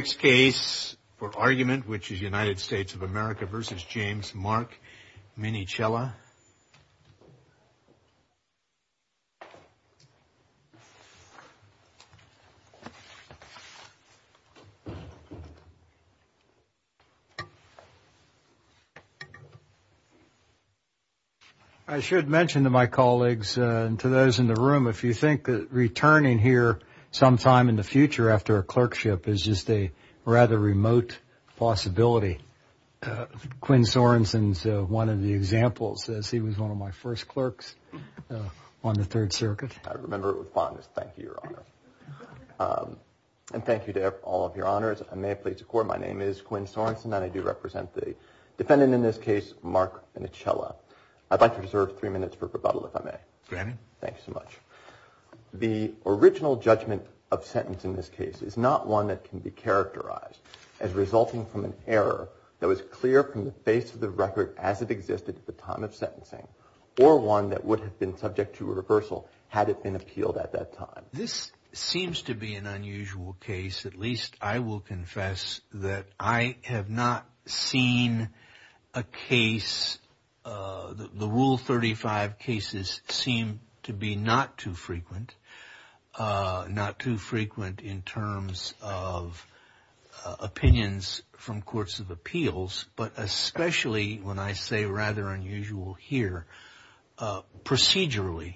I should mention to my colleagues and to those in the room, if you think that returning here sometime in the future after a clerkship is just a rather remote possibility. Quinn Sorensen's one of the examples, as he was one of my first clerks on the Third Circuit. I remember it with fondness. Thank you, Your Honor. And thank you to all of your honors. I may please record my name is Quinn Sorensen and I do represent the defendant in this case, Mark Minichella. I'd like to reserve three minutes for rebuttal, if I may. Granted. Thank you so much. The original judgment of sentence in this case is not one that can be characterized as resulting from an error that was clear from the face of the record as it existed at the time of sentencing, or one that would have been subject to reversal had it been appealed at that time. This seems to be an unusual case, at least I will confess that I have not seen a case, the Rule 35 cases seem to be not too frequent, not too frequent in terms of opinions from courts of appeals, but especially when I say rather unusual here, procedurally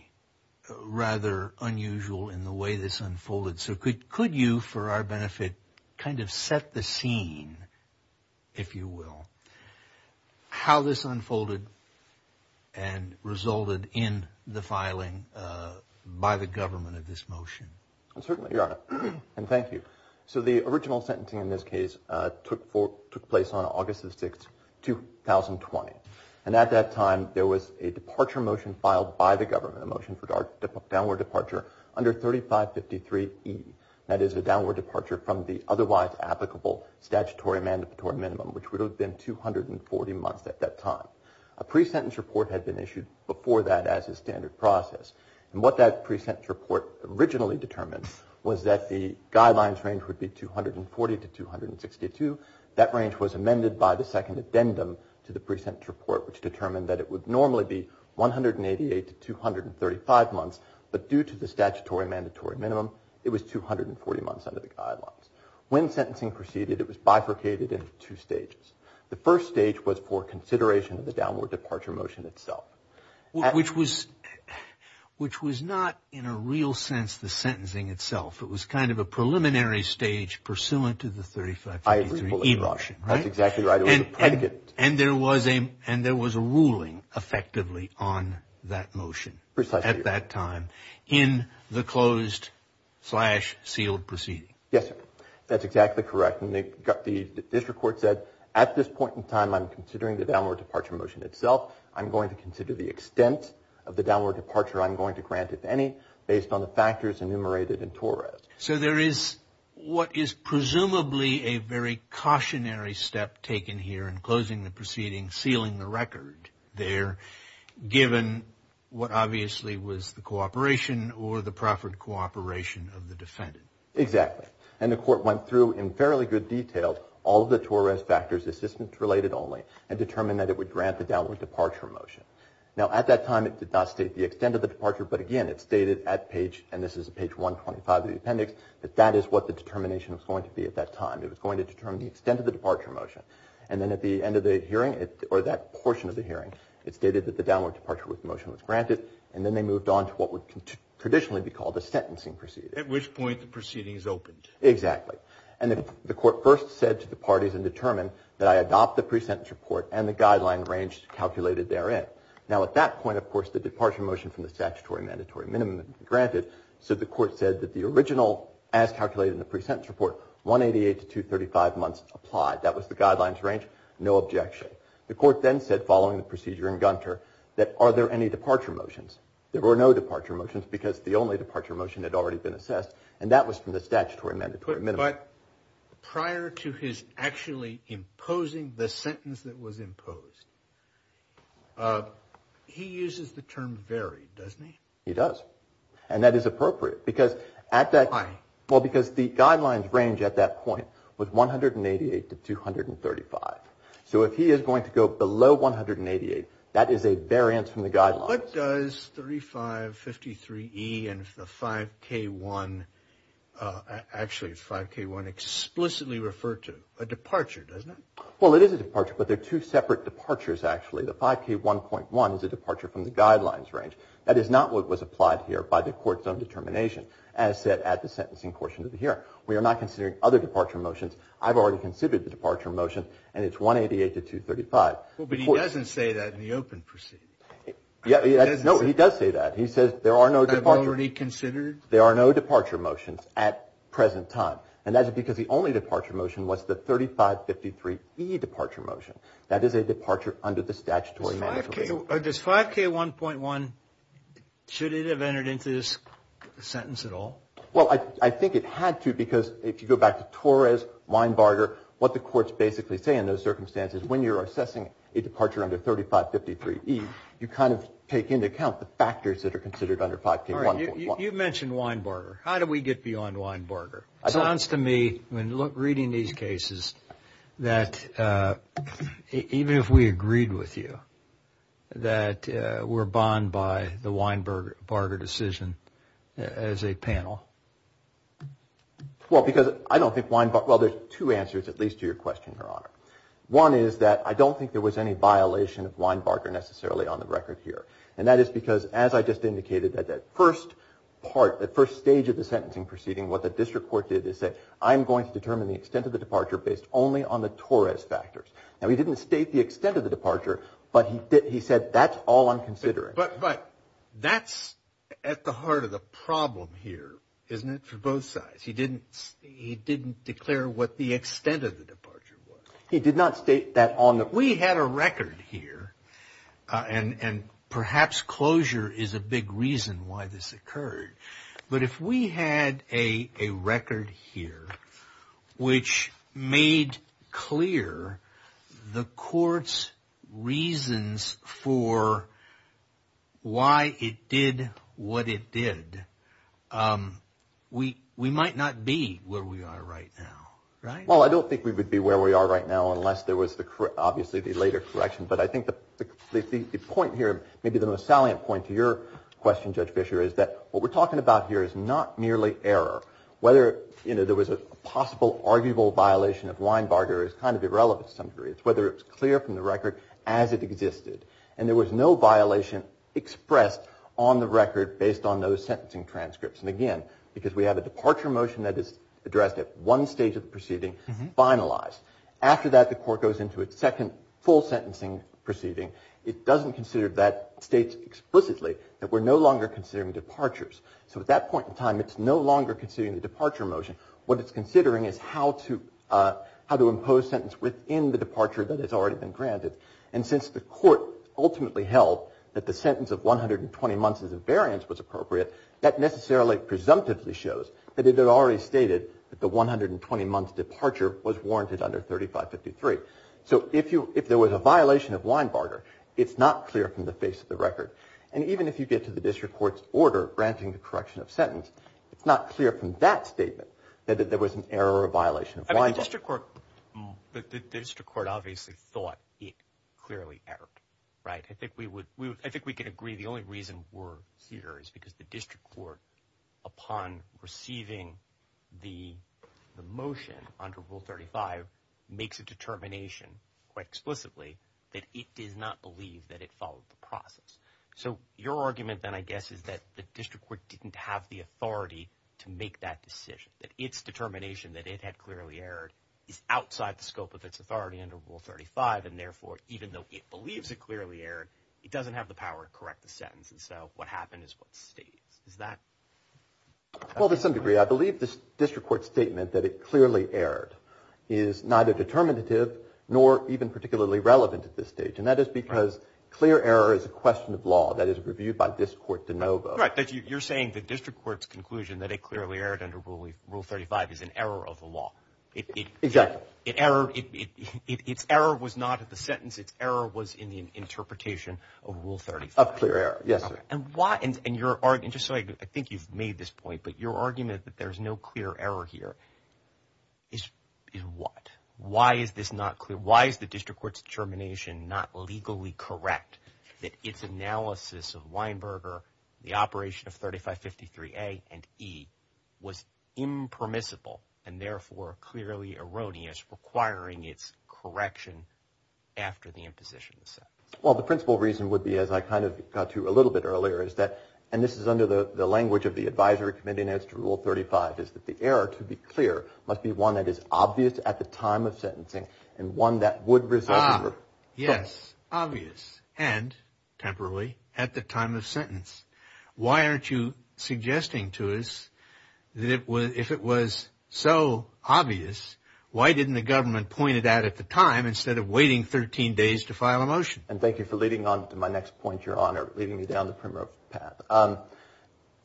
rather unusual in the way this unfolded. So could you, for our benefit, kind of set the scene, if you will, how this unfolded and resulted in the filing by the government of this motion? Certainly, Your Honor, and thank you. So the original sentencing in this case took place on August 6, 2020, and at that time there was a departure motion filed by the government, a motion for downward departure under 3553E, that is a downward departure from the otherwise applicable statutory mandatory minimum, which would have been 240 months at that time. A pre-sentence report had been issued before that as a standard process, and what that pre-sentence report originally determined was that the guidelines range would be 240 to 262. That range was amended by the second addendum to the pre-sentence report, which determined that it would normally be 188 to 235 months, but due to the statutory mandatory minimum, it was 240 months under the guidelines. When sentencing proceeded, it was bifurcated into two stages. The first stage was for consideration of the downward departure motion itself. Which was not, in a real sense, the sentencing itself. It was kind of a preliminary stage pursuant to the 3553E motion, right? That's exactly right. It was a predicate. And there was a ruling, effectively, on that motion at that time in the closed-slash-sealed proceeding. Yes, sir. That's exactly correct. The district court said, at this point in time, I'm considering the downward departure motion itself. I'm going to consider the extent of the downward departure I'm going to grant, if any, based on the factors enumerated in Torres. So there is what is presumably a very cautionary step taken here in closing the proceeding, sealing the record there, given what obviously was the cooperation or the proffered cooperation of the defendant. Exactly. And the court went through, in fairly good detail, all of the Torres factors, assistance-related only, and determined that it would grant the downward departure motion. Now, at that time, it did not state the extent of the departure. But, again, it stated at page, and this is page 125 of the appendix, that that is what the determination was going to be at that time. It was going to determine the extent of the departure motion. And then at the end of the hearing, or that portion of the hearing, it stated that the downward departure motion was granted. And then they moved on to what would traditionally be called a sentencing proceeding. At which point the proceeding is opened. Exactly. And the court first said to the parties and determined that I adopt the pre-sentence report and the guideline range calculated therein. Now, at that point, of course, the departure motion from the statutory mandatory minimum had been granted. So the court said that the original, as calculated in the pre-sentence report, 188 to 235 months applied. That was the guidelines range. No objection. The court then said, following the procedure in Gunter, that are there any departure motions? There were no departure motions because the only departure motion had already been assessed. And that was from the statutory mandatory minimum. But prior to his actually imposing the sentence that was imposed, he uses the term varied, doesn't he? He does. And that is appropriate. Why? Well, because the guidelines range at that point was 188 to 235. So if he is going to go below 188, that is a variance from the guidelines. What does 3553E and the 5K1, actually 5K1, explicitly refer to? A departure, doesn't it? Well, it is a departure, but they're two separate departures, actually. The 5K1.1 is a departure from the guidelines range. That is not what was applied here by the court's own determination, as set at the sentencing portion of the hearing. We are not considering other departure motions. I've already considered the departure motion, and it's 188 to 235. Well, but he doesn't say that in the open proceeding. No, he does say that. He says there are no departure motions. I've already considered. There are no departure motions at present time. And that is because the only departure motion was the 3553E departure motion. That is a departure under the statutory mandatory. Does 5K1.1, should it have entered into this sentence at all? Well, I think it had to because if you go back to Torres, Weinbarger, what the courts basically say in those circumstances, when you're assessing a departure under 3553E, you kind of take into account the factors that are considered under 5K1.1. You mentioned Weinbarger. How do we get beyond Weinbarger? It sounds to me, when reading these cases, that even if we agreed with you, that we're bond by the Weinbarger decision as a panel. Well, because I don't think Weinbarger, well, there's two answers at least to your question, Your Honor. One is that I don't think there was any violation of Weinbarger necessarily on the record here. And that is because, as I just indicated, that that first part, that first stage of the sentencing proceeding, what the district court did is say, I'm going to determine the extent of the departure based only on the Torres factors. Now, he didn't state the extent of the departure, but he said that's all I'm considering. But that's at the heart of the problem here, isn't it, for both sides? He didn't declare what the extent of the departure was. He did not state that on the court. We had a record here, and perhaps closure is a big reason why this occurred. But if we had a record here which made clear the court's reasons for why it did what it did, we might not be where we are right now, right? Well, I don't think we would be where we are right now unless there was obviously the later correction. But I think the point here, maybe the most salient point to your question, Judge Fischer, is that what we're talking about here is not merely error. Whether there was a possible arguable violation of Weinbarger is kind of irrelevant to some degree. It's whether it's clear from the record as it existed. And there was no violation expressed on the record based on those sentencing transcripts. And again, because we have a departure motion that is addressed at one stage of the proceeding, finalized. After that, the court goes into its second full sentencing proceeding. It doesn't consider that state explicitly that we're no longer considering departures. So at that point in time, it's no longer considering the departure motion. What it's considering is how to impose sentence within the departure that has already been granted. And since the court ultimately held that the sentence of 120 months as a variance was appropriate, that necessarily presumptively shows that it had already stated that the 120-month departure was warranted under 3553. So if there was a violation of Weinbarger, it's not clear from the face of the record. And even if you get to the district court's order granting the correction of sentence, it's not clear from that statement that there was an error or violation of Weinbarger. I mean, the district court obviously thought it clearly erred, right? I think we can agree the only reason we're here is because the district court, upon receiving the motion under Rule 35, makes a determination quite explicitly that it does not believe that it followed the process. So your argument then, I guess, is that the district court didn't have the authority to make that decision, that its determination that it had clearly erred is outside the scope of its authority under Rule 35. And therefore, even though it believes it clearly erred, it doesn't have the power to correct the sentence. And so what happened is what it states. Well, to some degree. I believe the district court's statement that it clearly erred is neither determinative nor even particularly relevant at this stage. And that is because clear error is a question of law that is reviewed by this court de novo. Right. You're saying the district court's conclusion that it clearly erred under Rule 35 is an error of the law. Exactly. Its error was not at the sentence. Its error was in the interpretation of Rule 35. Of clear error. Yes, sir. And just so I think you've made this point, but your argument that there's no clear error here is what? Why is this not clear? Why is the district court's determination not legally correct that its analysis of Weinberger, the operation of 3553A and E was impermissible and therefore clearly erroneous, requiring its correction after the imposition of the sentence? Well, the principal reason would be, as I kind of got to a little bit earlier, is that, and this is under the language of the advisory committee notes to Rule 35, is that the error, to be clear, must be one that is obvious at the time of sentencing and one that would result in. Ah, yes, obvious and temporarily at the time of sentence. Why aren't you suggesting to us that if it was so obvious, why didn't the government point it out at the time instead of waiting 13 days to file a motion? And thank you for leading on to my next point, Your Honor, leading me down the primrose path.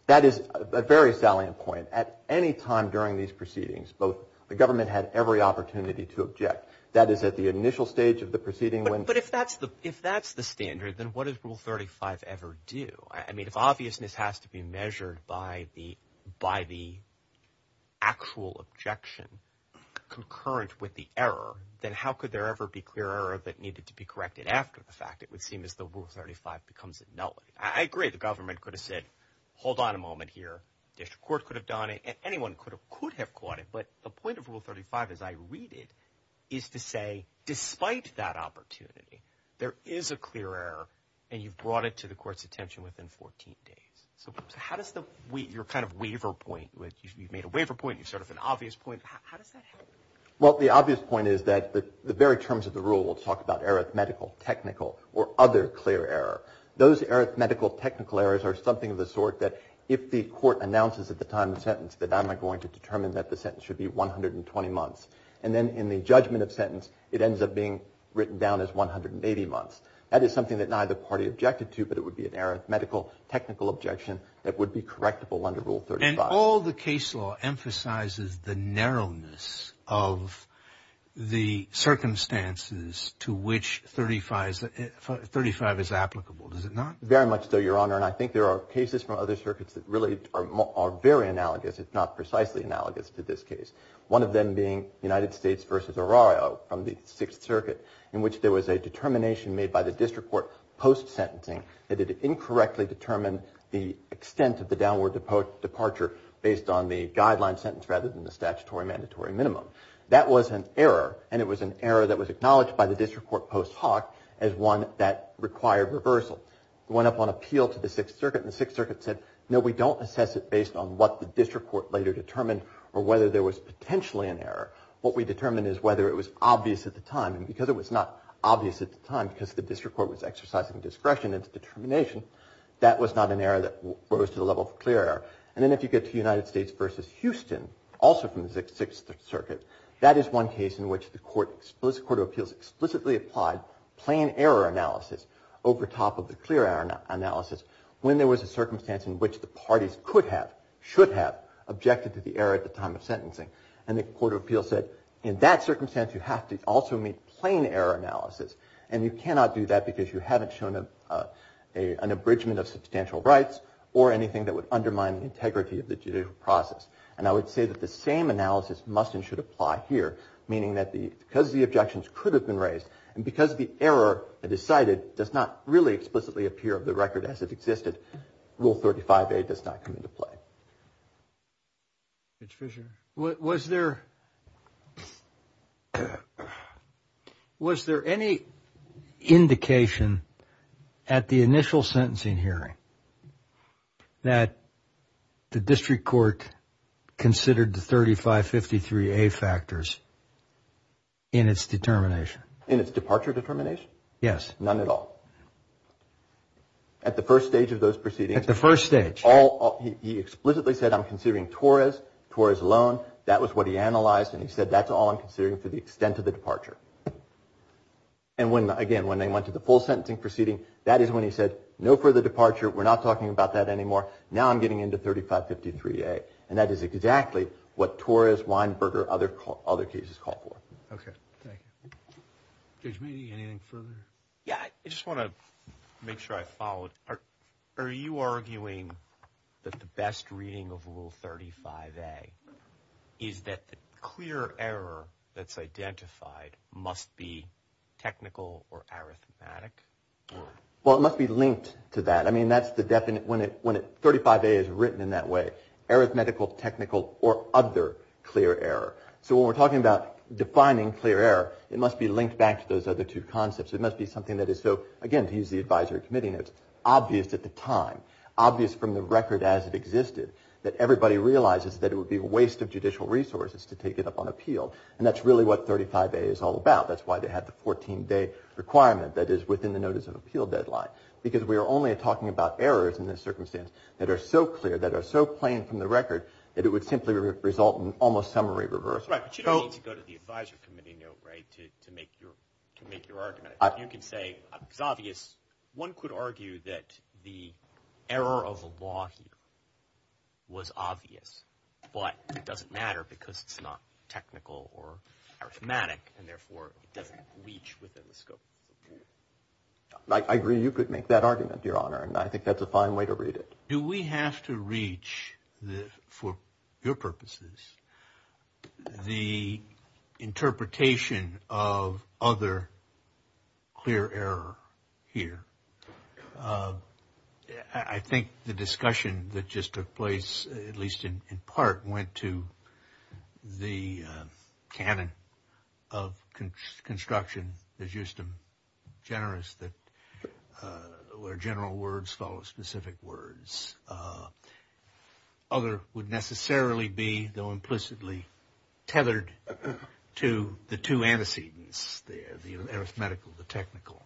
That is a very salient point. At any time during these proceedings, the government had every opportunity to object. That is at the initial stage of the proceeding when. But if that's the standard, then what does Rule 35 ever do? I mean, if obviousness has to be measured by the actual objection concurrent with the error, then how could there ever be clear error that needed to be corrected after the fact? It would seem as though Rule 35 becomes null. I agree the government could have said, hold on a moment here. The district court could have done it. Anyone could have caught it. But the point of Rule 35, as I read it, is to say, despite that opportunity, there is a clear error, and you've brought it to the court's attention within 14 days. So how does your kind of waiver point, you've made a waiver point, sort of an obvious point, how does that help? Well, the obvious point is that the very terms of the rule will talk about arithmetical, technical, or other clear error. Those arithmetical, technical errors are something of the sort that if the court announces at the time of the sentence that I'm not going to determine that the sentence should be 120 months, and then in the judgment of sentence, it ends up being written down as 180 months. That is something that neither party objected to, but it would be an arithmetical, technical objection that would be correctable under Rule 35. And all the case law emphasizes the narrowness of the circumstances to which 35 is applicable, does it not? Very much so, Your Honor. And I think there are cases from other circuits that really are very analogous, if not precisely analogous, to this case. One of them being United States v. Orario from the Sixth Circuit, in which there was a determination made by the district court post-sentencing that it incorrectly determined the extent of the downward departure based on the guideline sentence rather than the statutory mandatory minimum. That was an error, and it was an error that was acknowledged by the district court post hoc as one that required reversal. It went up on appeal to the Sixth Circuit, and the Sixth Circuit said, No, we don't assess it based on what the district court later determined or whether there was potentially an error. What we determine is whether it was obvious at the time. And because it was not obvious at the time, because the district court was exercising discretion in its determination, that was not an error that rose to the level of clear error. And then if you get to United States v. Houston, also from the Sixth Circuit, that is one case in which the court of appeals explicitly applied plain error analysis over top of the clear error analysis when there was a circumstance in which the parties could have, should have, objected to the error at the time of sentencing. And the court of appeals said, In that circumstance, you have to also meet plain error analysis, and you cannot do that because you haven't shown an abridgment of substantial rights or anything that would undermine the integrity of the judicial process. And I would say that the same analysis must and should apply here, meaning that because the objections could have been raised, and because the error decided does not really explicitly appear of the record as it existed, Rule 35A does not come into play. Mr. Fisher, was there any indication at the initial sentencing hearing that the district court considered the 3553A factors in its determination? In its departure determination? Yes. None at all? At the first stage of those proceedings? At the first stage. He explicitly said, I'm considering Torres, Torres alone. That was what he analyzed, and he said, That's all I'm considering for the extent of the departure. And when, again, when they went to the full sentencing proceeding, that is when he said, No further departure. We're not talking about that anymore. Now I'm getting into 3553A. And that is exactly what Torres, Weinberger, other cases call for. Okay. Thank you. Judge Meaney, anything further? Yeah, I just want to make sure I follow it. Are you arguing that the best reading of Rule 35A is that the clear error that's identified must be technical or arithmetic? Well, it must be linked to that. I mean, that's the definite, when 35A is written in that way, arithmetical, technical, or other clear error. So when we're talking about defining clear error, it must be linked back to those other two concepts. It must be something that is so, again, to use the advisory committee notes, obvious at the time, obvious from the record as it existed, that everybody realizes that it would be a waste of judicial resources to take it up on appeal. And that's really what 35A is all about. That's why they had the 14-day requirement that is within the notice of appeal deadline. Because we are only talking about errors in this circumstance that are so clear, that are so plain from the record, that it would simply result in almost summary reversal. Right. But you don't need to go to the advisory committee note, right, to make your argument. You can say it's obvious. One could argue that the error of the law here was obvious. But it doesn't matter because it's not technical or arithmetic, and therefore it doesn't reach within the scope of appeal. I agree you could make that argument, Your Honor, and I think that's a fine way to read it. Do we have to reach, for your purposes, the interpretation of other clear error here? I think the discussion that just took place, at least in part, went to the canon of construction, as used to generous that where general words follow specific words. Other would necessarily be, though implicitly, tethered to the two antecedents, the arithmetical, the technical.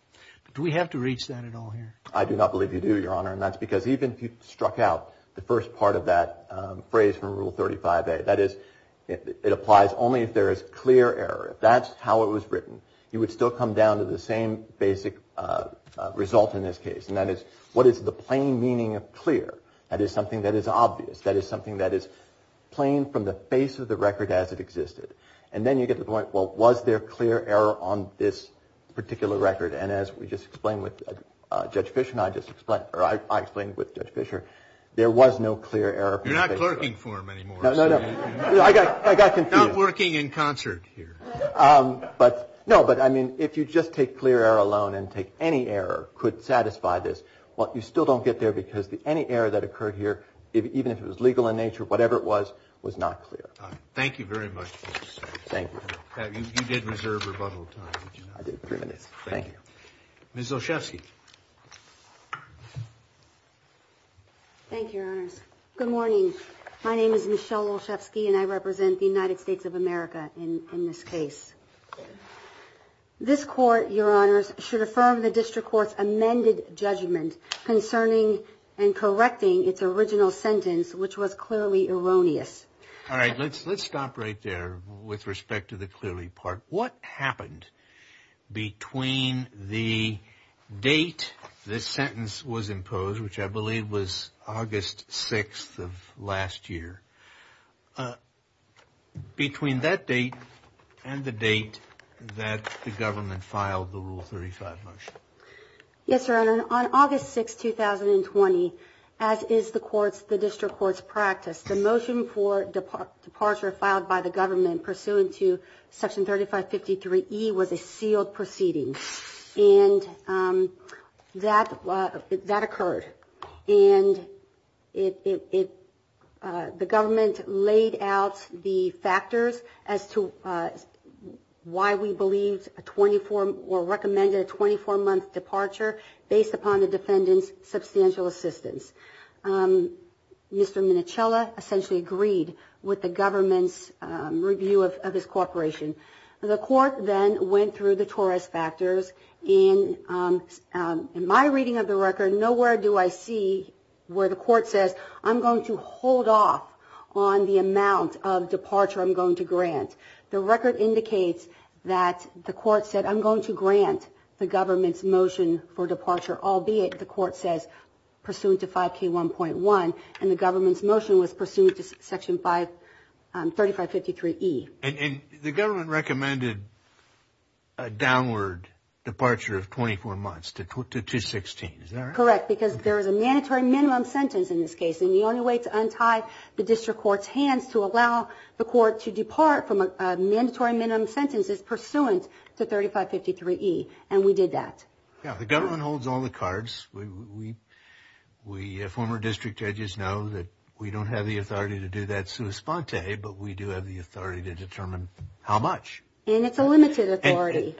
Do we have to reach that at all here? I do not believe you do, Your Honor, and that's because even if you struck out the first part of that phrase from Rule 35A, that is it applies only if there is clear error. If that's how it was written, you would still come down to the same basic result in this case, and that is what is the plain meaning of clear? That is something that is obvious. That is something that is plain from the face of the record as it existed. And then you get to the point, well, was there clear error on this particular record? And as we just explained with Judge Fischer and I just explained, or I explained with Judge Fischer, there was no clear error. You're not clerking for him anymore. No, no, no. I got confused. Not working in concert here. No, but, I mean, if you just take clear error alone and take any error could satisfy this, well, you still don't get there because any error that occurred here, even if it was legal in nature, whatever it was, was not clear. Thank you very much for your time. Thank you. You did reserve rebuttal time, did you not? I did, three minutes. Thank you. Ms. Olszewski. Thank you, Your Honors. Good morning. My name is Michelle Olszewski, and I represent the United States of America in this case. This court, Your Honors, should affirm the district court's amended judgment concerning and correcting its original sentence, which was clearly erroneous. All right. Let's stop right there with respect to the clearly part. What happened between the date this sentence was imposed, which I believe was August 6th of last year, between that date and the date that the government filed the Rule 35 motion? Yes, Your Honor. On August 6th, 2020, as is the district court's practice, the motion for departure filed by the government pursuant to Section 3553E was a sealed proceeding, and that occurred. And the government laid out the factors as to why we believed or recommended a 24-month departure based upon the defendant's substantial assistance. Mr. Minichella essentially agreed with the government's review of his cooperation. The court then went through the Torres factors. In my reading of the record, nowhere do I see where the court says, I'm going to hold off on the amount of departure I'm going to grant. The record indicates that the court said, I'm going to grant the government's motion for departure, albeit the court says pursuant to 5K1.1, and the government's motion was pursuant to Section 3553E. And the government recommended a downward departure of 24 months to 216, is that right? Correct, because there is a mandatory minimum sentence in this case, and the only way to untie the district court's hands to allow the court to depart from a mandatory minimum sentence is pursuant to 3553E, and we did that. Yeah, the government holds all the cards. We former district judges know that we don't have the authority to do that sui sponte, but we do have the authority to determine how much. And it's a limited authority.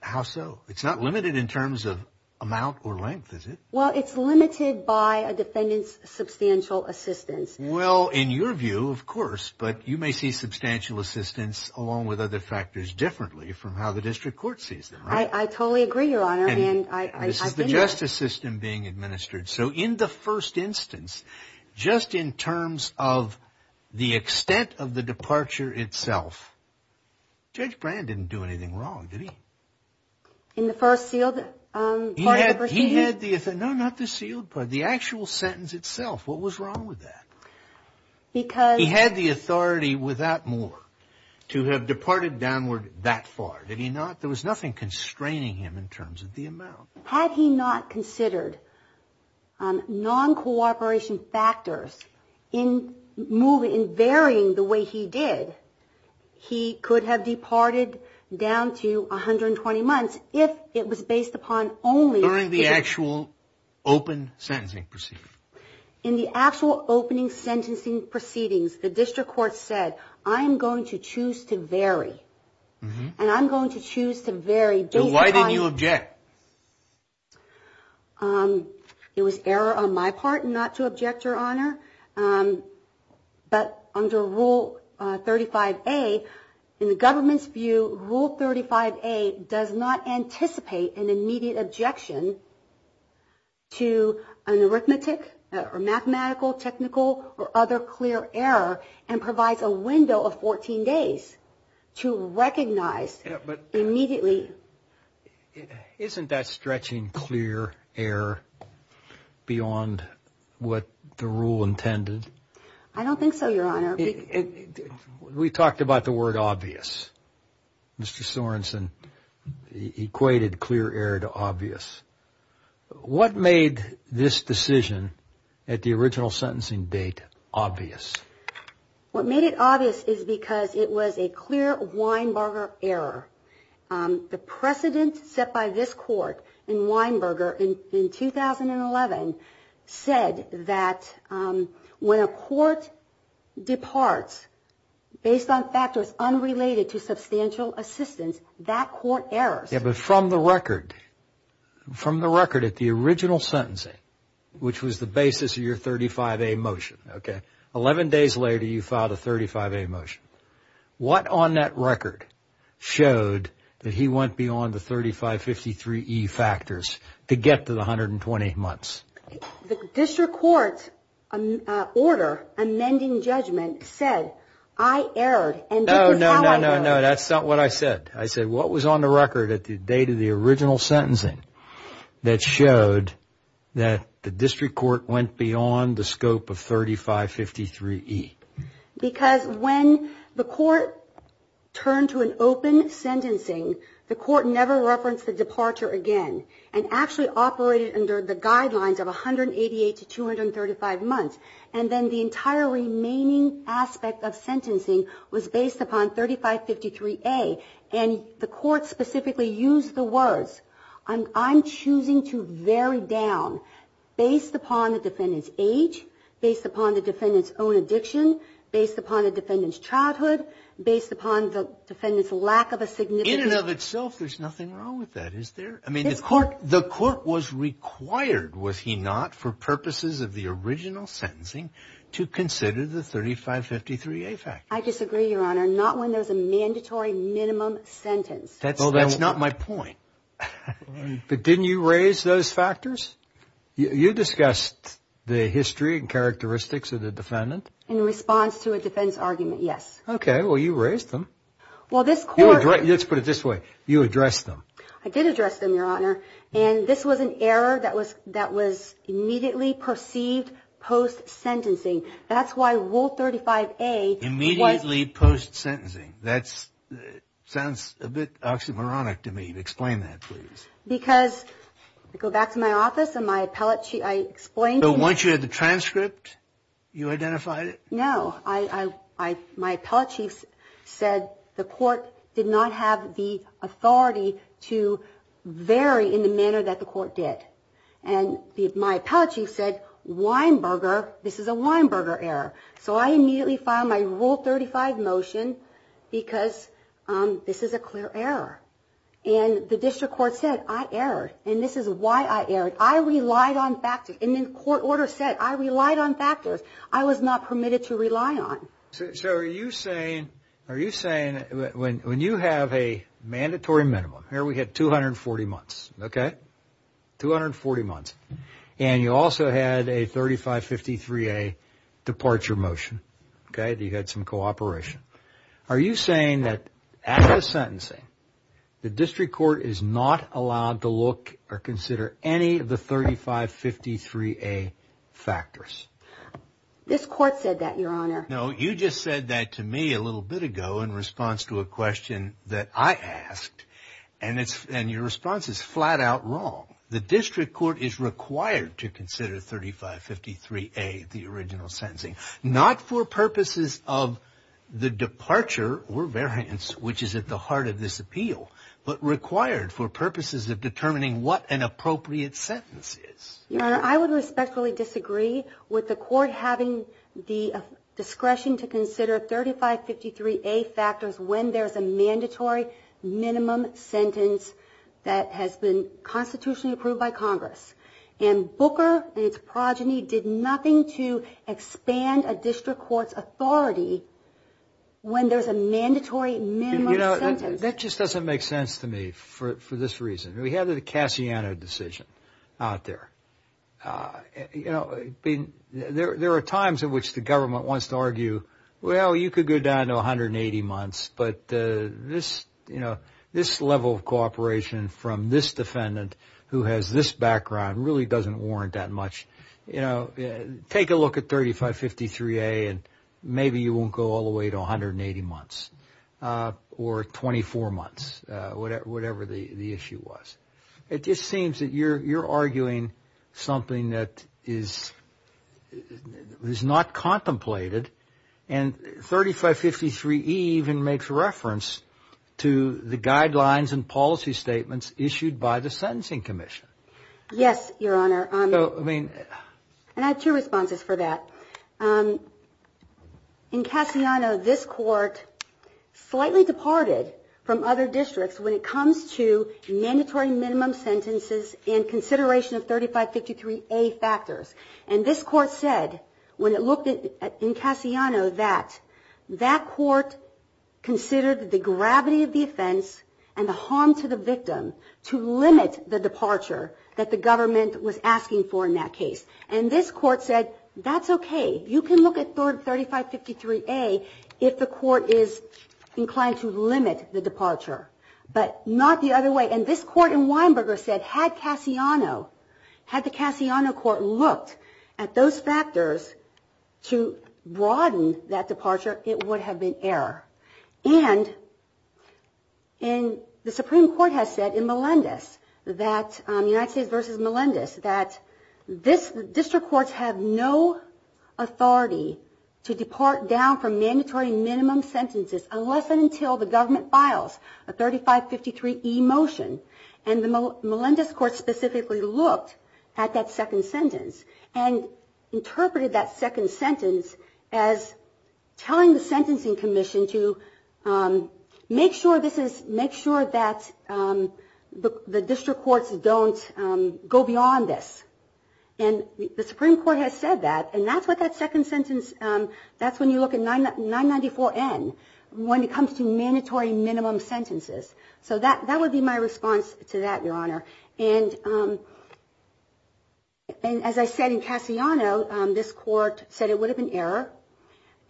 How so? It's not limited in terms of amount or length, is it? Well, it's limited by a defendant's substantial assistance. Well, in your view, of course, but you may see substantial assistance along with other factors differently from how the district court sees them, right? I totally agree, Your Honor. This is the justice system being administered. So in the first instance, just in terms of the extent of the departure itself, Judge Brand didn't do anything wrong, did he? In the first sealed part of the proceeding? No, not the sealed part, the actual sentence itself. What was wrong with that? He had the authority without more to have departed downward that far, did he not? There was nothing constraining him in terms of the amount. Had he not considered non-cooperation factors in varying the way he did, he could have departed down to 120 months if it was based upon only During the actual open sentencing proceeding. In the actual opening sentencing proceedings, the district court said, I'm going to choose to vary. And I'm going to choose to vary. Why didn't you object? It was error on my part not to object, Your Honor. But under Rule 35A, in the government's view, Rule 35A does not anticipate an immediate objection to an arithmetic or mathematical, technical or other clear error and provides a window of 14 days to recognize immediately. Isn't that stretching clear error beyond what the rule intended? I don't think so, Your Honor. We talked about the word obvious. Mr. Sorensen equated clear error to obvious. What made this decision at the original sentencing date obvious? What made it obvious is because it was a clear Weinberger error. The precedent set by this court in Weinberger in 2011 said that when a court departs based on factors unrelated to substantial assistance, that court errors. Yes, but from the record, from the record at the original sentencing, which was the basis of your 35A motion, okay, 11 days later you filed a 35A motion. What on that record showed that he went beyond the 3553E factors to get to the 120 months? The district court's order amending judgment said, I erred and this is how I know it. No, no, no, no, no. That's not what I said. I said what was on the record at the date of the original sentencing that showed that the district court went beyond the scope of 3553E? Because when the court turned to an open sentencing, the court never referenced the departure again and actually operated under the guidelines of 188 to 235 months. And then the entire remaining aspect of sentencing was based upon 3553A, and the court specifically used the words, I'm choosing to vary down based upon the defendant's age, based upon the defendant's own addiction, based upon the defendant's childhood, based upon the defendant's lack of a significant. In and of itself, there's nothing wrong with that, is there? I mean, the court was required, was he not, for purposes of the original sentencing? To consider the 3553A factor. I disagree, Your Honor. Not when there's a mandatory minimum sentence. Well, that's not my point. But didn't you raise those factors? You discussed the history and characteristics of the defendant? In response to a defense argument, yes. Okay. Well, you raised them. Well, this court. Let's put it this way. You addressed them. I did address them, Your Honor. And this was an error that was immediately perceived post-sentencing. That's why Rule 35A was. Immediately post-sentencing. That sounds a bit oxymoronic to me. Explain that, please. Because, I go back to my office and my appellate chief, I explained to him. But once you had the transcript, you identified it? No. My appellate chief said the court did not have the authority to vary in the manner that the court did. And my appellate chief said, Weinberger, this is a Weinberger error. So I immediately filed my Rule 35 motion because this is a clear error. And the district court said, I erred. And this is why I erred. I relied on factors. And then court order said, I relied on factors. I was not permitted to rely on. So are you saying when you have a mandatory minimum, here we had 240 months, okay? 240 months. And you also had a 3553A departure motion, okay? You had some cooperation. Are you saying that as a sentencing, the district court is not allowed to look or consider any of the 3553A factors? This court said that, Your Honor. No, you just said that to me a little bit ago in response to a question that I asked. And your response is flat out wrong. The district court is required to consider 3553A, the original sentencing. Not for purposes of the departure or variance, which is at the heart of this appeal, but required for purposes of determining what an appropriate sentence is. Your Honor, I would respectfully disagree with the court having the discretion to consider 3553A factors when there's a mandatory minimum sentence that has been constitutionally approved by Congress. And Booker and its progeny did nothing to expand a district court's authority when there's a mandatory minimum sentence. You know, that just doesn't make sense to me for this reason. We had the Cassiano decision out there. You know, there are times in which the government wants to argue, well, you could go down to 180 months, but this level of cooperation from this defendant who has this background really doesn't warrant that much. You know, take a look at 3553A and maybe you won't go all the way to 180 months or 24 months, whatever the issue was. It just seems that you're arguing something that is not contemplated. And 3553E even makes reference to the guidelines and policy statements issued by the Sentencing Commission. Yes, Your Honor. So, I mean. And I have two responses for that. In Cassiano, this court slightly departed from other districts when it comes to mandatory minimum sentences and consideration of 3553A factors. And this court said, when it looked in Cassiano, that that court considered the gravity of the offense and the harm to the victim to limit the departure that the government was asking for in that case. And this court said, that's okay. You can look at 3553A if the court is inclined to limit the departure, but not the other way. And this court in Weinberger said, had Cassiano, had the Cassiano court looked at those factors to broaden that departure, it would have been error. And the Supreme Court has said in Melendez that, United States v. Melendez, that district courts have no authority to depart down from mandatory minimum sentences unless and until the government files a 3553E motion. And the Melendez court specifically looked at that second sentence and interpreted that second sentence as telling the Sentencing Commission to make sure this is, make sure that the district courts don't go beyond this. And the Supreme Court has said that. And that's what that second sentence, that's when you look at 994N, when it comes to mandatory minimum sentences. So that would be my response to that, Your Honor. And as I said in Cassiano, this court said it would have been error.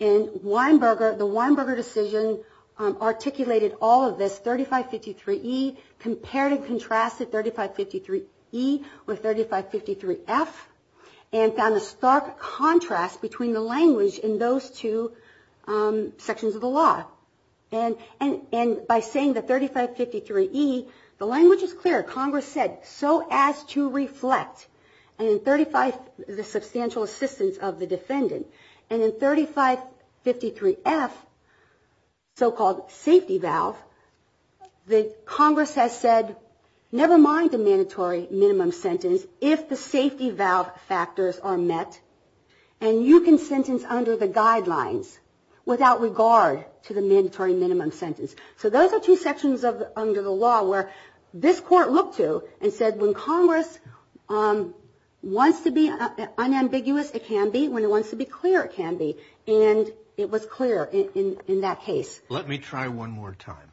And Weinberger, the Weinberger decision articulated all of this, 3553E, compared and contrasted 3553E with 3553F, and found a stark contrast between the language in those two sections of the law. And by saying the 3553E, the language is clear. Congress said, so as to reflect, and 35, the substantial assistance of the defendant. And in 3553F, so-called safety valve, the Congress has said, never mind the mandatory minimum sentence if the safety valve factors are met, and you can sentence under the guidelines without regard to the mandatory minimum sentence. So those are two sections under the law where this court looked to and said, when Congress wants to be unambiguous, it can be. When it wants to be clear, it can be. And it was clear in that case. Let me try one more time.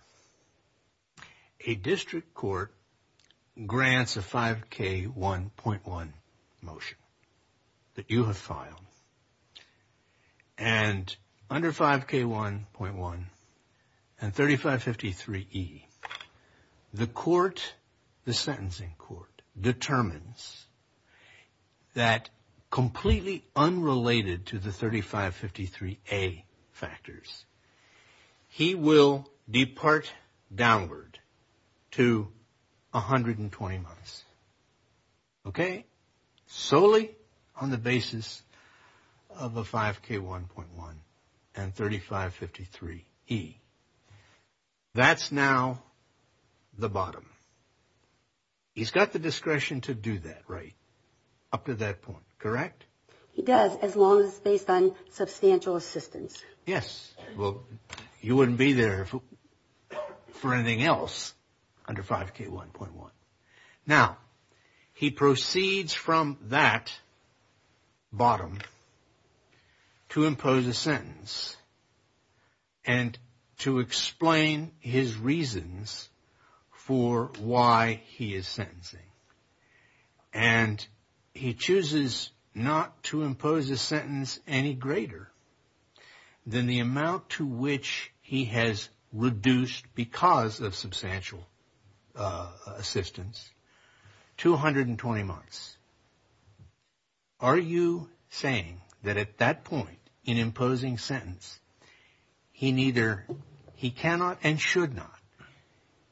A district court grants a 5K1.1 motion that you have filed. And under 5K1.1 and 3553E, the court, the sentencing court, determines that completely unrelated to the 3553A factors, he will depart downward to 120 months. Okay? Solely on the basis of a 5K1.1 and 3553E. That's now the bottom. He's got the discretion to do that, right? Up to that point, correct? He does, as long as it's based on substantial assistance. Yes. Well, you wouldn't be there for anything else under 5K1.1. Now, he proceeds from that bottom to impose a sentence and to explain his reasons for why he is sentencing. And he chooses not to impose a sentence any greater than the amount to which he has reduced, because of substantial assistance, to 120 months. Are you saying that at that point in imposing sentence, he cannot and should not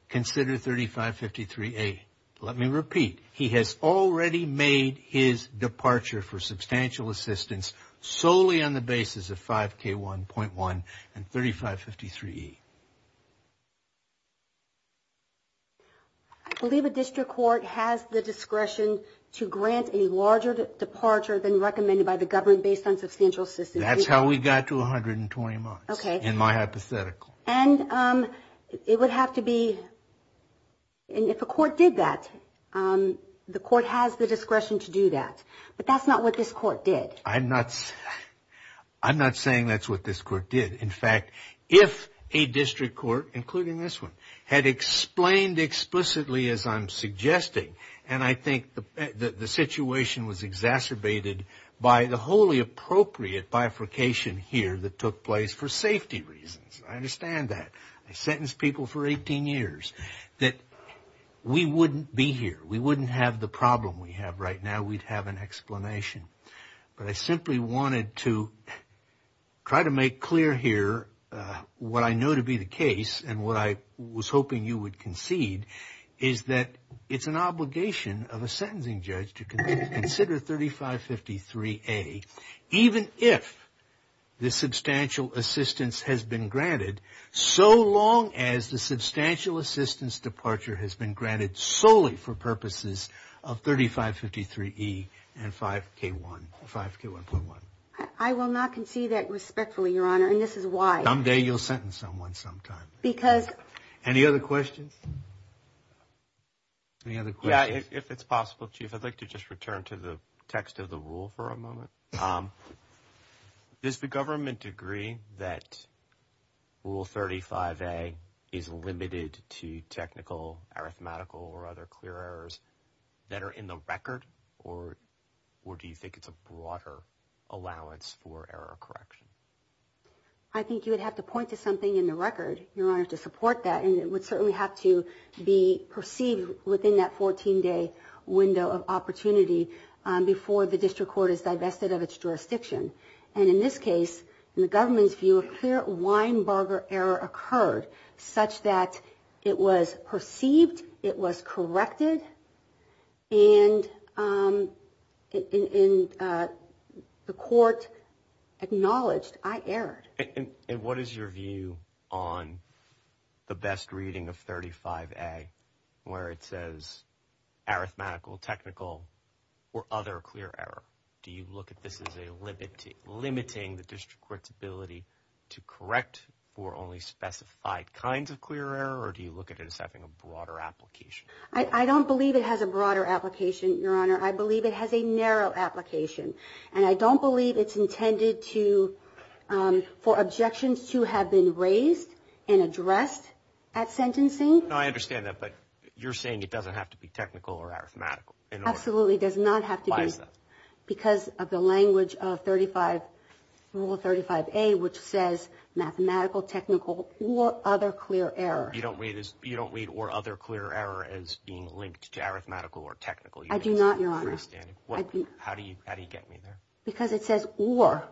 consider 3553A? Let me repeat. He has already made his departure for substantial assistance solely on the basis of 5K1.1 and 3553E. I believe a district court has the discretion to grant a larger departure than recommended by the government based on substantial assistance. That's how we got to 120 months, in my hypothetical. And it would have to be, if a court did that, the court has the discretion to do that. But that's not what this court did. I'm not saying that's what this court did. In fact, if a district court, including this one, had explained explicitly, as I'm suggesting, and I think the situation was exacerbated by the wholly appropriate bifurcation here that took place for safety reasons. I understand that. I sentenced people for 18 years. We wouldn't be here. We wouldn't have the problem we have right now. We'd have an explanation. But I simply wanted to try to make clear here what I know to be the case and what I was hoping you would concede, is that it's an obligation of a sentencing judge to consider 3553A, even if the substantial assistance has been granted, so long as the substantial assistance departure has been granted solely for purposes of 3553E and 5K1.1. I will not concede that respectfully, Your Honor, and this is why. Someday you'll sentence someone sometime. Any other questions? Yeah, if it's possible, Chief, I'd like to just return to the text of the rule for a moment. Does the government agree that Rule 35A is limited to technical, arithmetical, or other clear errors that are in the record, or do you think it's a broader allowance for error correction? I think you would have to point to something in the record, Your Honor, to support that, and it would certainly have to be perceived within that 14-day window of opportunity before the district court is divested of its jurisdiction. And in this case, in the government's view, a clear Weinbarger error occurred such that it was perceived, it was corrected, and the court acknowledged I erred. And what is your view on the best reading of 35A, where it says arithmetical, technical, or other clear error? Do you look at this as limiting the district court's ability to correct for only specified kinds of clear error, or do you look at it as having a broader application? I don't believe it has a broader application, Your Honor. I believe it has a narrow application, and I don't believe it's intended for objections to have been raised and addressed at sentencing. No, I understand that, but you're saying it doesn't have to be technical or arithmetical. Absolutely, it does not have to be. Why is that? Because of the language of Rule 35A, which says mathematical, technical, or other clear error. You don't read or other clear error as being linked to arithmetical or technical. I do not, Your Honor. I don't understand. How do you get me there? Because it says or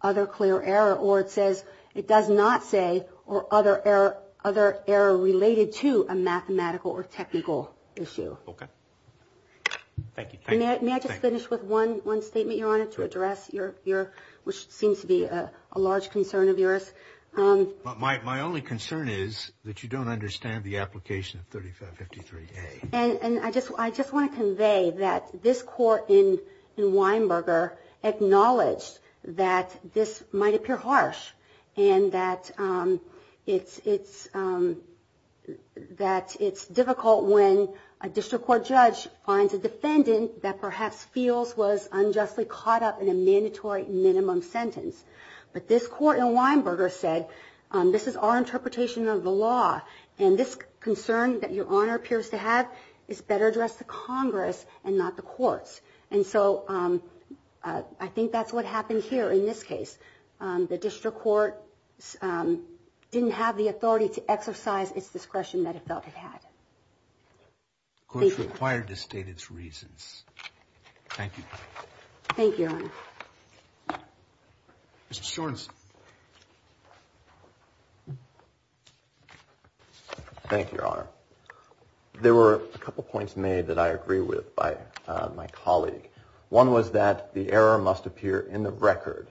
other clear error, or it says it does not say or other error related to a mathematical or technical issue. Okay. Thank you. May I just finish with one statement, Your Honor, to address what seems to be a large concern of yours? My only concern is that you don't understand the application of 3553A. I just want to convey that this court in Weinberger acknowledged that this might appear harsh and that it's difficult when a district court judge finds a defendant that perhaps feels was unjustly caught up in a mandatory minimum sentence. But this court in Weinberger said this is our interpretation of the law, and this concern that Your Honor appears to have is better addressed to Congress and not the courts. And so I think that's what happened here in this case. The district court didn't have the authority to exercise its discretion that it felt it had. The court is required to state its reasons. Thank you. Thank you, Your Honor. Mr. Shorenson. Thank you, Your Honor. There were a couple points made that I agree with by my colleague. One was that the error must appear in the record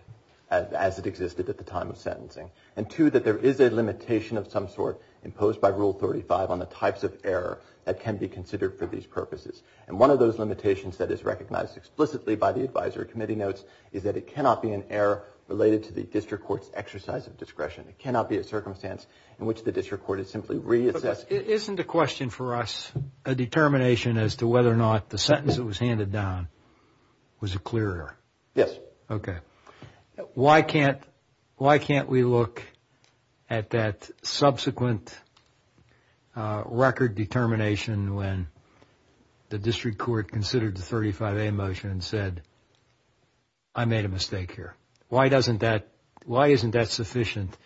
as it existed at the time of sentencing, and two, that there is a limitation of some sort imposed by Rule 35 on the types of error that can be considered for these purposes. And one of those limitations that is recognized explicitly by the advisory committee notes is that it cannot be an error related to the district court's exercise of discretion. It cannot be a circumstance in which the district court is simply reassessed. But isn't the question for us a determination as to whether or not the sentence that was handed down was a clear error? Yes. Okay. Why can't we look at that subsequent record determination when the district court considered the 35A motion and said, I made a mistake here? Why isn't that sufficient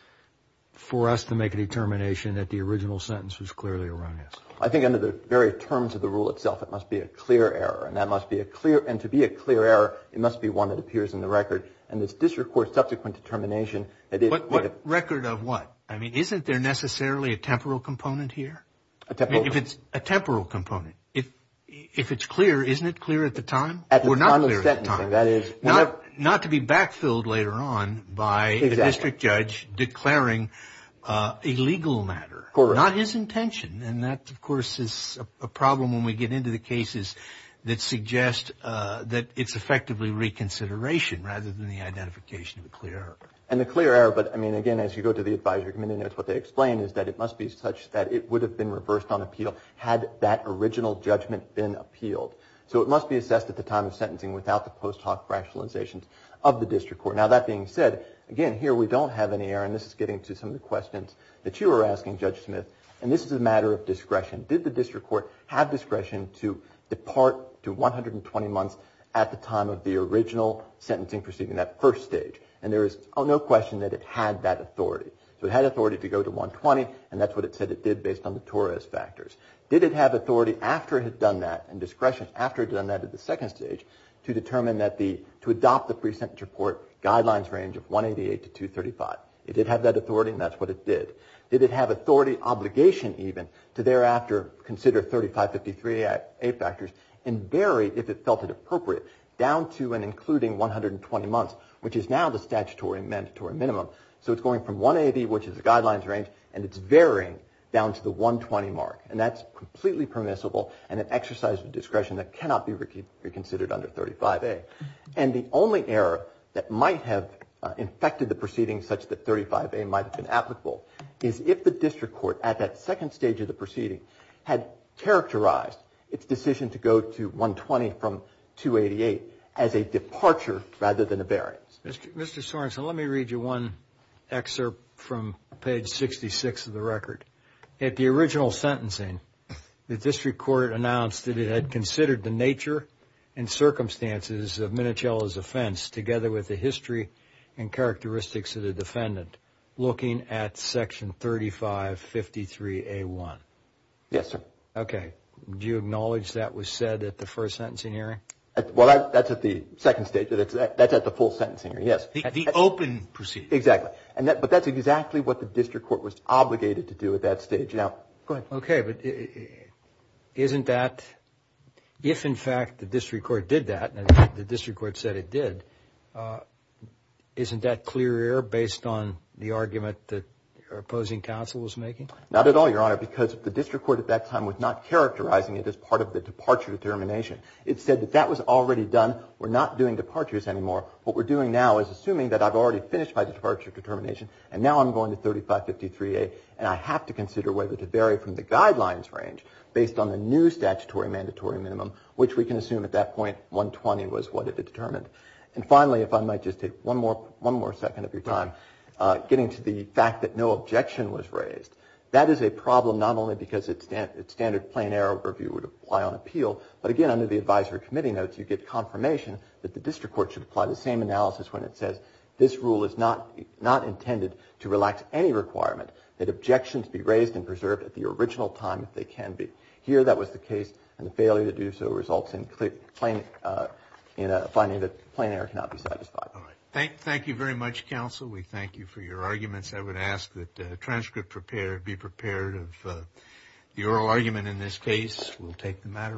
for us to make a determination that the original sentence was clearly erroneous? I think under the very terms of the rule itself, it must be a clear error, and to be a clear error, it must be one that appears in the record. And this district court's subsequent determination. Record of what? I mean, isn't there necessarily a temporal component here? A temporal component. A temporal component. If it's clear, isn't it clear at the time? At the time of sentencing, that is. Not to be backfilled later on by the district judge declaring a legal matter. Correct. Not his intention. And that, of course, is a problem when we get into the cases that suggest that it's effectively reconsideration rather than the identification of a clear error. And a clear error. But, I mean, again, as you go to the advisory committee notes, what they explain is that it must be such that it would have been reversed on appeal had that original judgment been appealed. So it must be assessed at the time of sentencing without the post hoc rationalizations of the district court. Now, that being said, again, here we don't have any error, and this is getting to some of the questions that you were asking, Judge Smith, and this is a matter of discretion. Did the district court have discretion to depart to 120 months at the time of the original sentencing proceeding, that first stage? And there is no question that it had that authority. So it had authority to go to 120, and that's what it said it did based on the Torres factors. Did it have authority after it had done that, and discretion after it had done that at the second stage, to adopt the pre-sentence report guidelines range of 188 to 235? It did have that authority, and that's what it did. Did it have authority, obligation even, to thereafter consider 3553A factors and vary, if it felt it appropriate, down to and including 120 months, which is now the statutory and mandatory minimum. So it's going from 180, which is the guidelines range, and it's varying down to the 120 mark. And that's completely permissible and an exercise of discretion that cannot be reconsidered under 35A. And the only error that might have infected the proceedings such that 35A might have been applicable is if the district court, at that second stage of the proceeding, had characterized its decision to go to 120 from 288 as a departure rather than a variance. Mr. Sorensen, let me read you one excerpt from page 66 of the record. At the original sentencing, the district court announced that it had considered the nature and circumstances of Minichiello's offense, together with the history and characteristics of the defendant, looking at section 3553A1. Yes, sir. Okay. Do you acknowledge that was said at the first sentencing hearing? Well, that's at the second stage. That's at the full sentencing hearing, yes. At the open proceeding. Exactly. But that's exactly what the district court was obligated to do at that stage. Now, go ahead. Okay. But isn't that, if in fact the district court did that, and the district court said it did, isn't that clear error based on the argument that your opposing counsel was making? Not at all, Your Honor, because the district court at that time was not characterizing it as part of the departure determination. It said that that was already done. We're not doing departures anymore. What we're doing now is assuming that I've already finished my departure determination, and now I'm going to 3553A, and I have to consider whether to vary from the guidelines range, based on the new statutory mandatory minimum, which we can assume at that point, 120 was what it had determined. And finally, if I might just take one more second of your time, getting to the fact that no objection was raised. That is a problem not only because its standard plain error review would apply on appeal, but again, under the advisory committee notes, you get confirmation that the district court should apply the same analysis when it says this rule is not intended to relax any requirement, that objections be raised and preserved at the original time if they can be. Here, that was the case, and the failure to do so results in finding that plain error cannot be satisfied. Thank you very much, counsel. We thank you for your arguments. I would ask that the transcript be prepared of the oral argument in this case. We'll take the matter on.